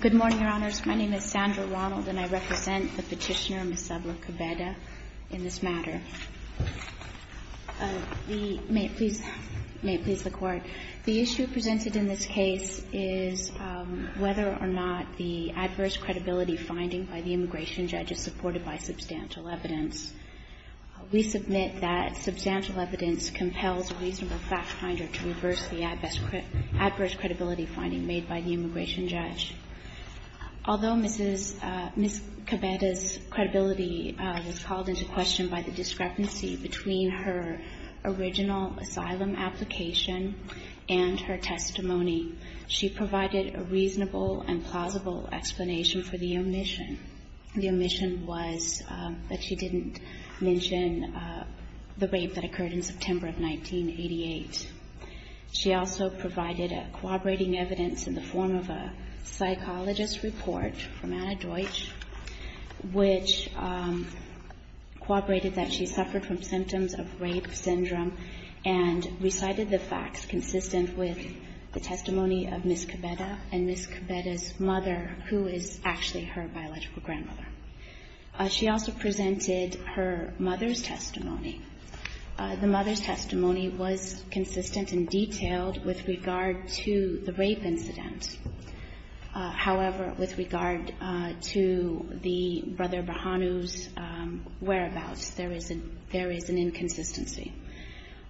Good morning, Your Honors. My name is Sandra Ronald, and I represent the petitioner, Ms. Sabla-Kebede, in this matter. May it please the Court, the issue presented in this case is whether or not the adverse credibility finding by the immigration judge is supported by substantial evidence. We submit that substantial evidence compels a reasonable fact finder to reverse the adverse credibility finding made by the immigration judge. Although Ms. Kebede's credibility was called into question by the discrepancy between her original asylum application and her testimony, she provided a reasonable and plausible explanation for the omission. The omission was that she didn't mention the rape that occurred in September of 1988. She also provided a corroborating evidence in the form of a psychologist's report from Anna Deutsch, which corroborated that she suffered from symptoms of rape syndrome and recited the facts consistent with the testimony of Ms. Kebede and Ms. Kebede's mother, who is actually her biological grandmother. She also presented her mother's testimony. The mother's testimony was consistent and detailed with regard to the rape incident. However, with regard to the brother Bahanu's whereabouts, there is an inconsistency.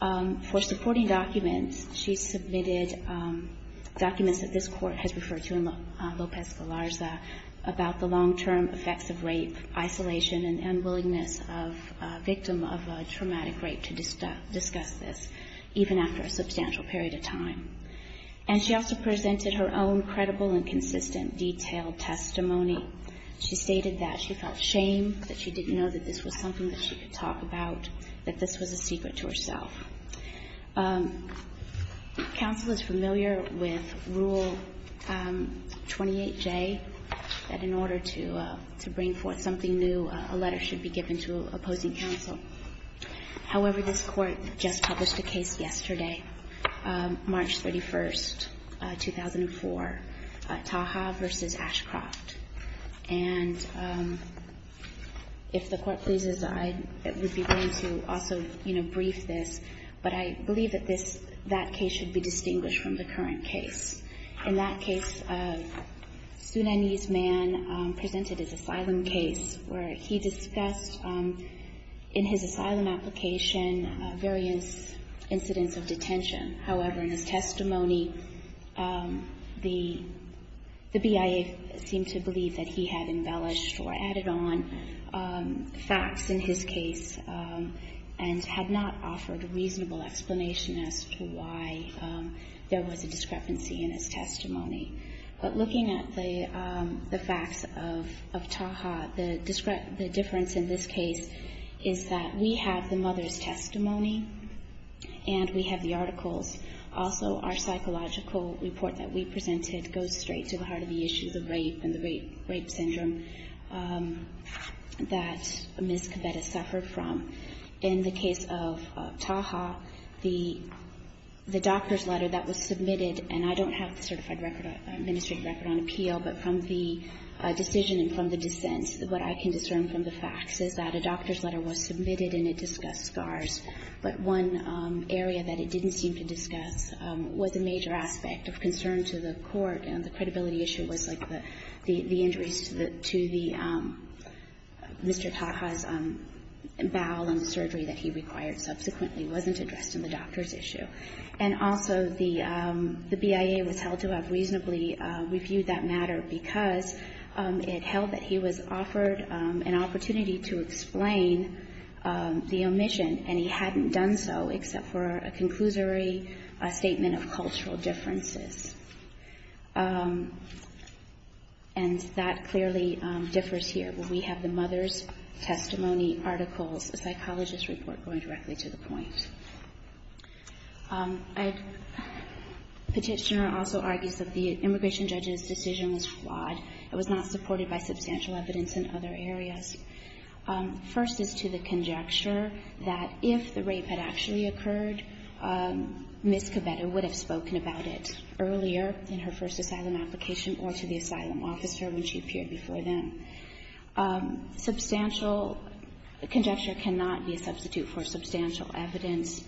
For supporting documents, she submitted documents that this Court has referred to in Lopez-Galarza about the long-term effects of rape, isolation, and unwillingness of a victim of a traumatic rape to discuss this, even after a substantial period of time. And she also presented her own credible and consistent, detailed testimony. She stated that she felt shame that she didn't know that this was something that she could talk about, that this was a secret to herself. Counsel is familiar with Rule 28J, that in order to bring forth something new, a letter should be given to opposing counsel. However, this Court just published a case yesterday, March 31st, 2004, Taha v. Ashcroft. And if the Court pleases, I would be willing to also, you know, brief this. But I believe that this, that case should be distinguished from the current case. In that case, a Sudanese man presented his asylum case where he discussed in his asylum application various incidents of detention. However, in his testimony, the BIA seemed to believe that he had embellished or added on facts in his case and had not offered a reasonable explanation as to why there was a discrepancy in his testimony. But looking at the facts of Taha, the difference in this case is that we have the mother's testimony and we have the articles. Also, our psychological report that we presented goes straight to the heart of the issues of rape and the rape syndrome that Ms. Cabetta suffered from. In the case of Taha, the doctor's letter that was submitted, and I don't have the certified record, administrative record on appeal, but from the decision and from the dissent, what I can discern from the facts is that a doctor's letter was submitted and it discussed scars. But one area that it didn't seem to discuss was a major aspect of concern to the Court, and the credibility issue was like the injuries to the Mr. Taha's bowel and the surgery that he required subsequently wasn't addressed in the doctor's issue. And also, the BIA was held to have reasonably reviewed that matter because it held that he was offered an opportunity to explain the omission, and he hadn't done so, except for a conclusory statement of cultural differences. And that clearly differs here. We have the mother's testimony articles, a psychologist's report going directly to the point. Petitioner also argues that the immigration judge's decision was flawed. It was not supported by substantial evidence in other areas. First is to the conjecture that if the rape had actually occurred, Ms. Cabetta would have spoken about it earlier in her first asylum application or to the asylum officer when she appeared before them. Substantial conjecture cannot be a substitute for substantial evidence.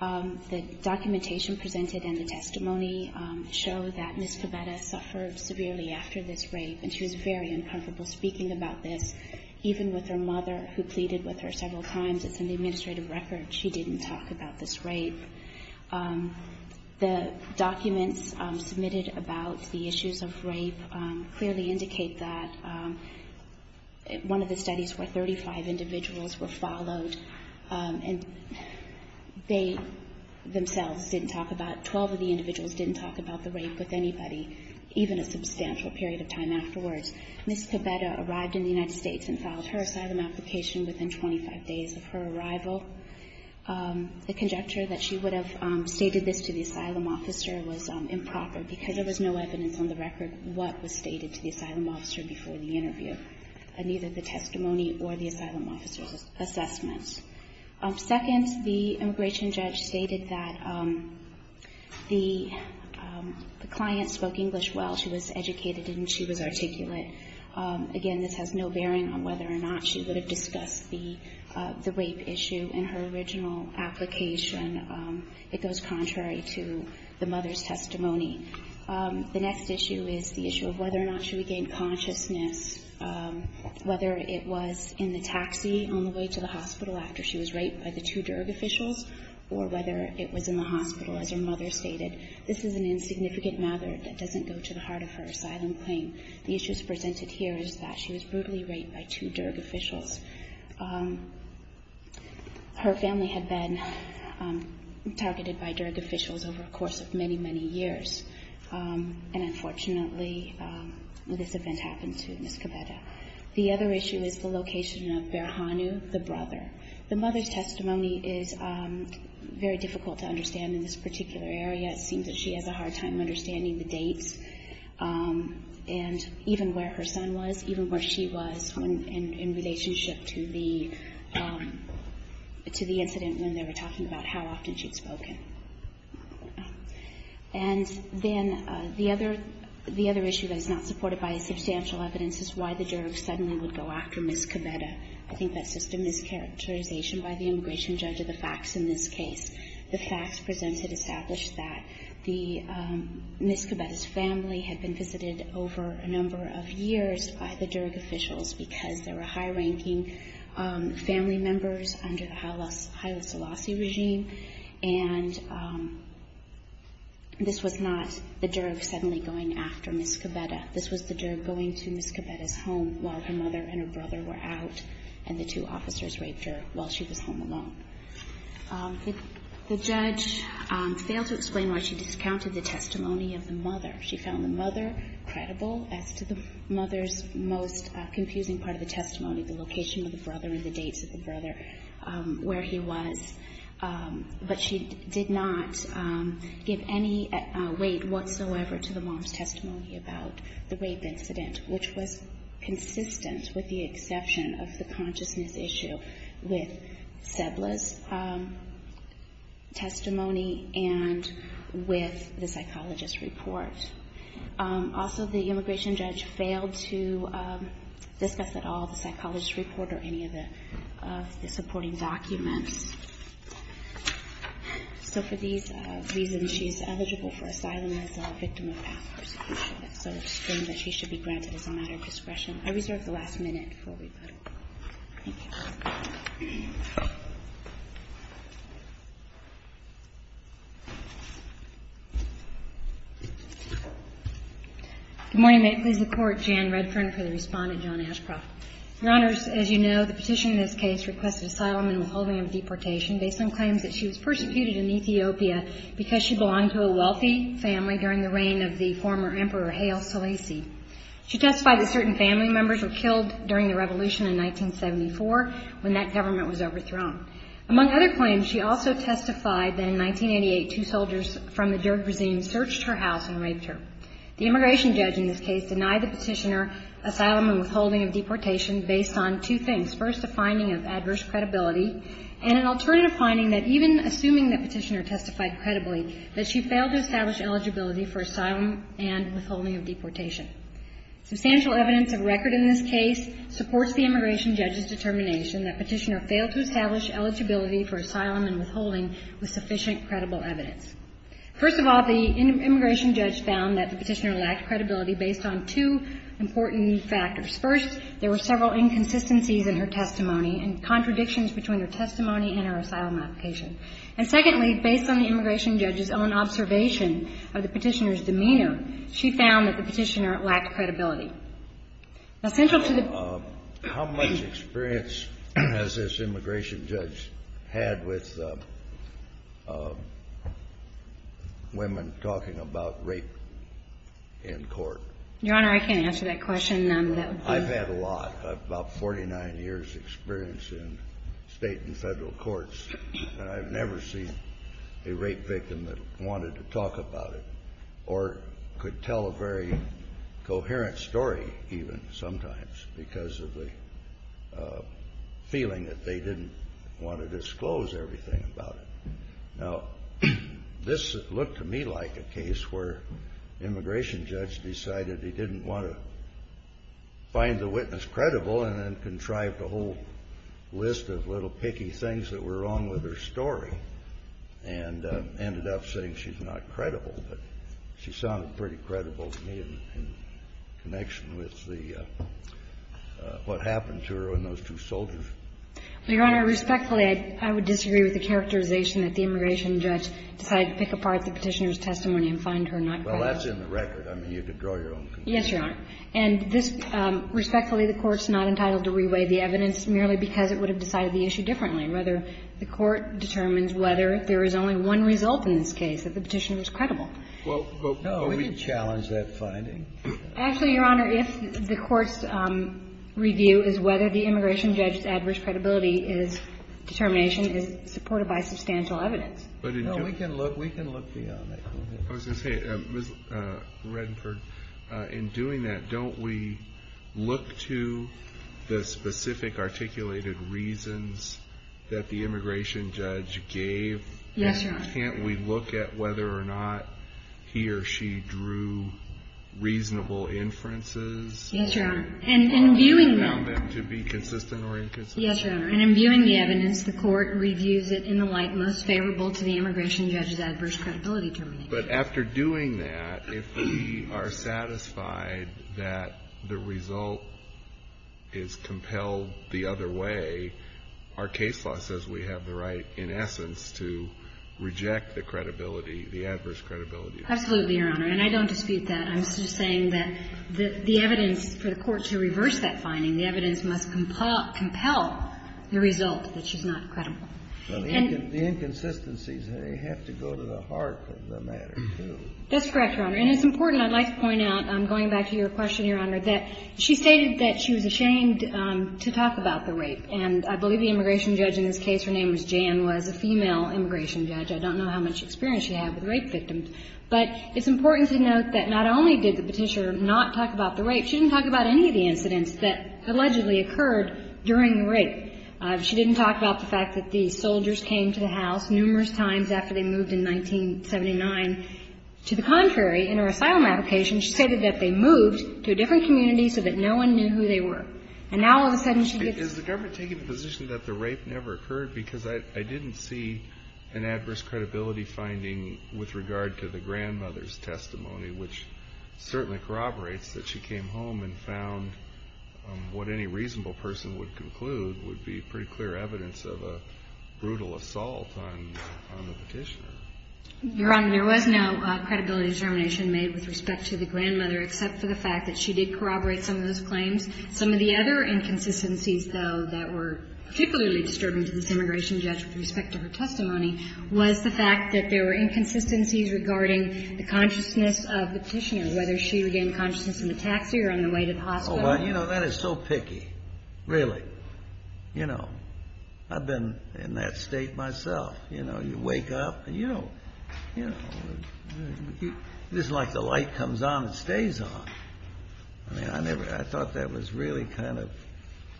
The documentation presented and the testimony show that Ms. Cabetta suffered severely after this rape, and she was very uncomfortable speaking about this, even with her mother who pleaded with her several times. It's in the administrative record she didn't talk about this rape. The documents submitted about the issues of rape clearly indicate that one of the studies where 35 individuals were followed, and they themselves didn't talk about, 12 of the individuals didn't talk about the rape with anybody, even a substantial period of time afterwards. Ms. Cabetta arrived in the United States and filed her asylum application within 25 days of her arrival. The conjecture that she would have stated this to the asylum officer was improper because there was no evidence on the record what was stated to the asylum officer before the interview, neither the testimony or the asylum officer's assessments. Second, the immigration judge stated that the client spoke English well. She was educated and she was articulate. Again, this has no bearing on whether or not she would have discussed the rape issue in her original application. It goes contrary to the mother's testimony. The next issue is the issue of whether or not she regained consciousness, whether it was in the taxi on the way to the hospital after she was raped by the two DERG officials or whether it was in the hospital, as her mother stated. This is an insignificant matter that doesn't go to the heart of her asylum claim. The issues presented here is that she was brutally raped by two DERG officials. Her family had been targeted by DERG officials over the course of many, many years, and unfortunately this event happened to Ms. Cabeda. The other issue is the location of Berhanu, the brother. The mother's testimony is very difficult to understand in this particular area. It seems that she has a hard time understanding the dates and even where her son was, even where she was in relationship to the incident when they were talking about how often she had spoken. And then the other issue that is not supported by substantial evidence is why the DERG suddenly would go after Ms. Cabeda. I think that's just a mischaracterization by the immigration judge of the facts in this case. The facts presented establish that Ms. Cabeda's family had been visited over a number of years by the DERG officials because they were high-ranking family members under the Haile Selassie regime. And this was not the DERG suddenly going after Ms. Cabeda. This was the DERG going to Ms. Cabeda's home while her mother and her brother were out and the two officers raped her while she was home alone. The judge failed to explain why she discounted the testimony of the mother. She found the mother credible as to the mother's most confusing part of the testimony, the location of the brother and the dates of the brother, where he was. But she did not give any weight whatsoever to the mom's testimony about the rape incident, which was consistent with the exception of the consciousness issue with Sebla's testimony and with the psychologist's report. Also, the immigration judge failed to discuss at all the psychologist's report or any of the supporting documents. So for these reasons, she's eligible for asylum as a victim of assassination. So the claim that she should be granted is a matter of discretion. I reserve the last minute for rebuttal. Thank you. Good morning. May it please the Court. Jan Redfern for the respondent. John Ashcroft. Your Honors, as you know, the petition in this case requested asylum in the holding of deportation based on claims that she was persecuted in Ethiopia because she belonged to a wealthy family during the reign of the former Emperor Haile Selassie. She testified that certain family members were killed during the revolution in 1974 when that government was overthrown. Among other claims, she also testified that in 1988, two soldiers from the Derg regime searched her house and raped her. The immigration judge in this case denied the petitioner asylum and withholding of deportation based on two things, first, a finding of adverse credibility and an alternative finding that even assuming the petitioner testified credibly, that she failed to establish eligibility for asylum and withholding of deportation. Substantial evidence of record in this case supports the immigration judge's determination that the petitioner failed to establish eligibility for asylum and withholding with sufficient credible evidence. First of all, the immigration judge found that the petitioner lacked credibility based on two important factors. First, there were several inconsistencies in her testimony and contradictions between her testimony and her asylum application. And secondly, based on the immigration judge's own observation of the petitioner's demeanor, she found that the petitioner lacked credibility. Now central to the ---- How much experience has this immigration judge had with women talking about rape in court? Your Honor, I can't answer that question. I've had a lot, about 49 years' experience in State and Federal courts, and I've never seen a rape victim that wanted to talk about it or could tell a very coherent story even sometimes because of the feeling that they didn't want to disclose everything about it. Now this looked to me like a case where the immigration judge decided he didn't want to find the witness credible and then contrived a whole list of little picky things that were wrong with her story and ended up saying she's not credible. But she sounded pretty credible to me in connection with the ---- what happened to her and those two soldiers. Your Honor, respectfully, I would disagree with the characterization that the immigration judge decided to pick apart the petitioner's testimony and find her not credible. Well, that's in the record. I mean, you can draw your own conclusions. Yes, Your Honor. And this ---- respectfully, the Court's not entitled to reweigh the evidence merely because it would have decided the issue differently. Rather, the Court determines whether there is only one result in this case, that the petitioner was credible. Well, can we challenge that finding? Actually, Your Honor, if the Court's review is whether the immigration judge's adverse credibility determination is supported by substantial evidence. No, we can look beyond that. I was going to say, Ms. Redford, in doing that, don't we look to the specific articulated reasons that the immigration judge gave? Yes, Your Honor. Can't we look at whether or not he or she drew reasonable inferences? Yes, Your Honor. And in viewing them. To be consistent or inconsistent. Yes, Your Honor. And in viewing the evidence, the Court reviews it in the light most favorable to the immigration judge's adverse credibility determination. But after doing that, if we are satisfied that the result is compelled the other way, our case law says we have the right, in essence, to reject the credibility, the adverse credibility. Absolutely, Your Honor. And I don't dispute that. I'm just saying that the evidence for the Court to reverse that finding, the evidence must compel the result that she's not credible. But the inconsistencies, they have to go to the heart of the matter, too. That's correct, Your Honor. And it's important, I'd like to point out, going back to your question, Your Honor, that she stated that she was ashamed to talk about the rape. And I believe the immigration judge in this case, her name was Jan, was a female immigration judge. I don't know how much experience she had with rape victims. But it's important to note that not only did the Petitioner not talk about the rape, she didn't talk about any of the incidents that allegedly occurred during the rape. She didn't talk about the fact that the soldiers came to the house numerous times after they moved in 1979. To the contrary, in her asylum application, she stated that they moved to a different community so that no one knew who they were. And now, all of a sudden, she gets... Is the government taking the position that the rape never occurred? Because I didn't see an adverse credibility finding with regard to the grandmother's testimony, which certainly corroborates that she came home and found what any reasonable person would conclude would be pretty clear evidence of a brutal assault on the Petitioner. Your Honor, there was no credibility determination made with respect to the grandmother except for the fact that she did corroborate some of those claims. Some of the other inconsistencies, though, that were particularly disturbing to this immigration judge with respect to her testimony was the fact that there were inconsistencies regarding the consciousness of the Petitioner, whether she regained consciousness in the taxi or on the way to the hospital. Well, you know, that is so picky, really. You know, I've been in that state myself. You know, you wake up, and you don't... It isn't like the light comes on and stays on. I mean, I never... I thought that was really kind of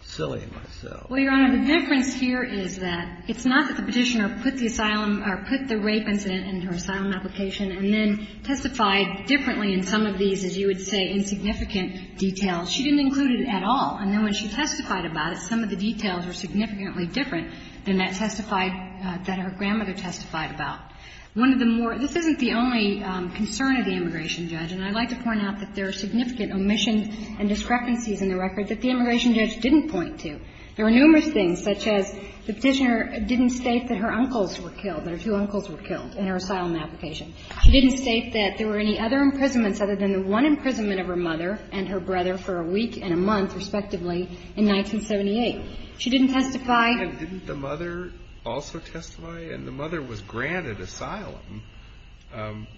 silly myself. Well, Your Honor, the difference here is that it's not that the Petitioner put the rape incident in her asylum application and then testified differently in some of these, as you would say, insignificant details. She didn't include it at all. And then when she testified about it, some of the details were significantly different than that testified that her grandmother testified about. One of the more — this isn't the only concern of the immigration judge, and I'd like to point out that there are significant omissions and discrepancies in the record that the immigration judge didn't point to. There were numerous things, such as the Petitioner didn't state that her uncles were killed, that her two uncles were killed in her asylum application. She didn't state that there were any other imprisonments other than the one imprisonment of her mother and her brother for a week and a month, respectively, in 1978. She didn't testify... But didn't the mother also testify? And the mother was granted asylum.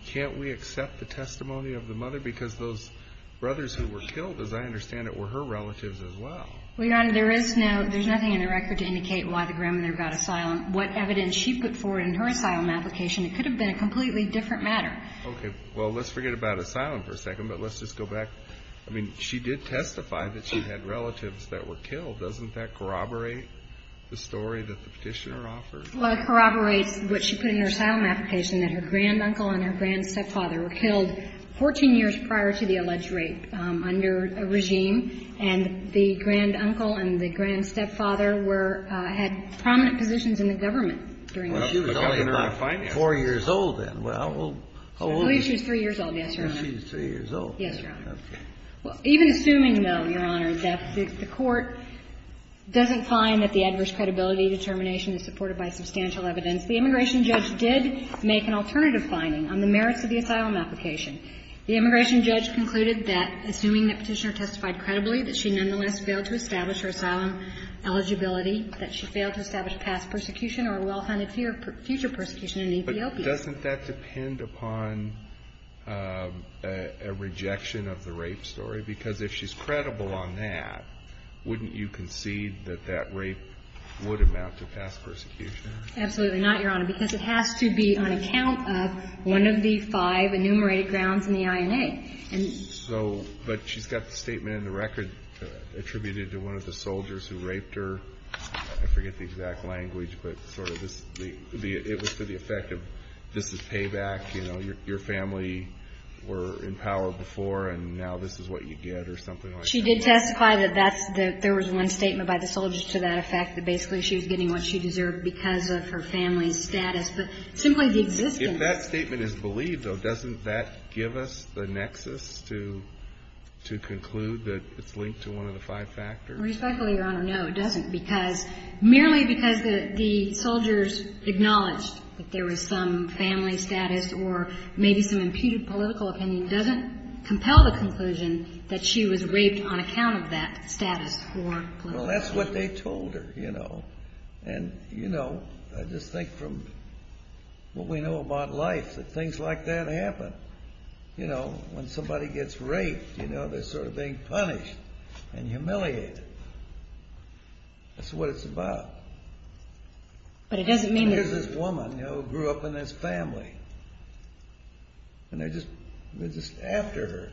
Can't we accept the testimony of the mother? Because those brothers who were killed, as I understand it, were her relatives as well. Well, Your Honor, there is no — there's nothing in the record to indicate why the grandmother got asylum, what evidence she put forward in her asylum application. It could have been a completely different matter. Okay. Well, let's forget about asylum for a second, but let's just go back. I mean, she did testify that she had relatives that were killed. Doesn't that corroborate the story that the Petitioner offered? Well, it corroborates what she put in her asylum application, that her granduncle and her grandstepfather were killed 14 years prior to the alleged rape under a regime, and the granduncle and the grandstepfather were — had prominent positions in the government during this period. Well, she was only about 4 years old then. Well, how old is she? I believe she was 3 years old. Yes, Your Honor. She was 3 years old. Yes, Your Honor. Even assuming, though, Your Honor, that the Court doesn't find that the adverse credibility determination is supported by substantial evidence, the immigration judge did make an alternative finding on the merits of the asylum application. The immigration judge concluded that, assuming that Petitioner testified credibly that she nonetheless failed to establish her asylum eligibility, that she failed to establish past persecution or well-founded future persecution in Ethiopia. But doesn't that depend upon a rejection of the rape story? Because if she's credible on that, wouldn't you concede that that rape would amount to past persecution? Absolutely not, Your Honor, because it has to be on account of one of the five enumerated grounds in the INA. So — but she's got the statement in the record attributed to one of the soldiers who raped her. I forget the exact language, but sort of this — it was to the effect of this is payback. You know, your family were in power before, and now this is what you get or something like that. She did testify that that's the — there was one statement by the soldier to that effect, that basically she was getting what she deserved because of her family's status. But simply the existence — If that statement is believed, though, doesn't that give us the nexus to conclude that it's linked to one of the five factors? Respectfully, Your Honor, no, it doesn't, because — merely because the soldiers acknowledged that there was some family status or maybe some imputed political opinion doesn't compel the conclusion that she was raped on account of that status or political opinion. Well, that's what they told her, you know. And, you know, I just think from what we know about life that things like that happen. You know, when somebody gets raped, you know, they're sort of being punished and humiliated. That's what it's about. But it doesn't mean that — And there's this woman, you know, who grew up in this family. And they're just — they're just after her.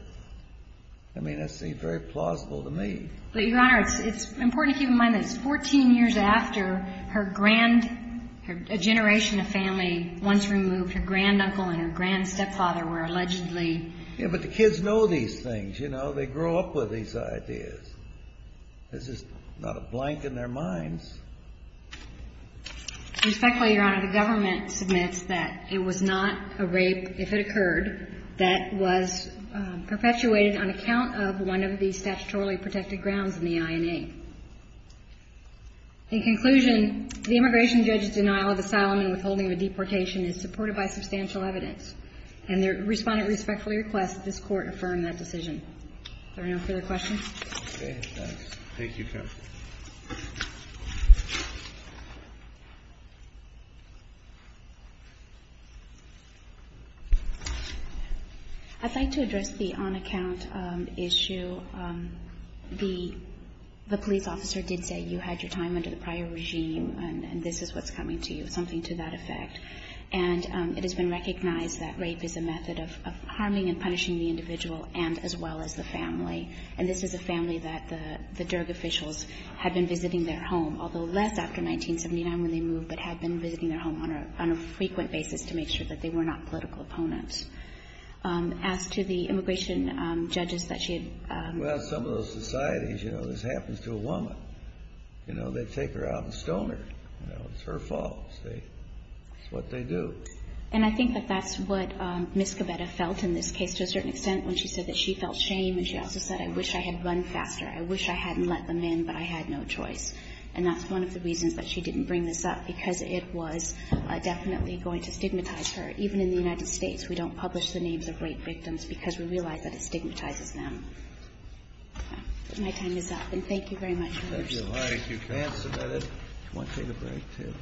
I mean, that seems very plausible to me. But, Your Honor, it's important to keep in mind that it's 14 years after her grand — a generation of family once removed. Her granduncle and her grandstepfather were allegedly — Yeah, but the kids know these things, you know. They grow up with these ideas. This is not a blank in their minds. Respectfully, Your Honor, the government submits that it was not a rape, if it occurred, that was perpetuated on account of one of the statutorily protected grounds in the INA. In conclusion, the immigration judge's denial of asylum and withholding of a deportation is supported by substantial evidence. And the Respondent respectfully requests that this Court affirm that decision. Are there no further questions? Okay. Thanks. Thank you, counsel. I'd like to address the on-account issue. The police officer did say you had your time under the prior regime, and this is what's coming to you, something to that effect. And it has been recognized that rape is a method of harming and punishing the individual and as well as the family. And this is a family that the DERG officials had been visiting their home, although less after 1979 when they moved, but had been visiting their home on a frequent basis to make sure that they were not political opponents. As to the immigration judges that she had — Well, some of those societies, you know, this happens to a woman. You know, they take her out and stone her. You know, it's her fault. It's what they do. And I think that that's what Ms. Gabetta felt in this case to a certain extent when she said that she felt shame. And she also said, I wish I had run faster. I wish I hadn't let them in, but I had no choice. And that's one of the reasons that she didn't bring this up, because it was definitely going to stigmatize her. Even in the United States, we don't publish the names of rape victims because we realize that it stigmatizes them. My time is up. And thank you very much. Thank you. All right, if you can't submit it, you want to take a break, too.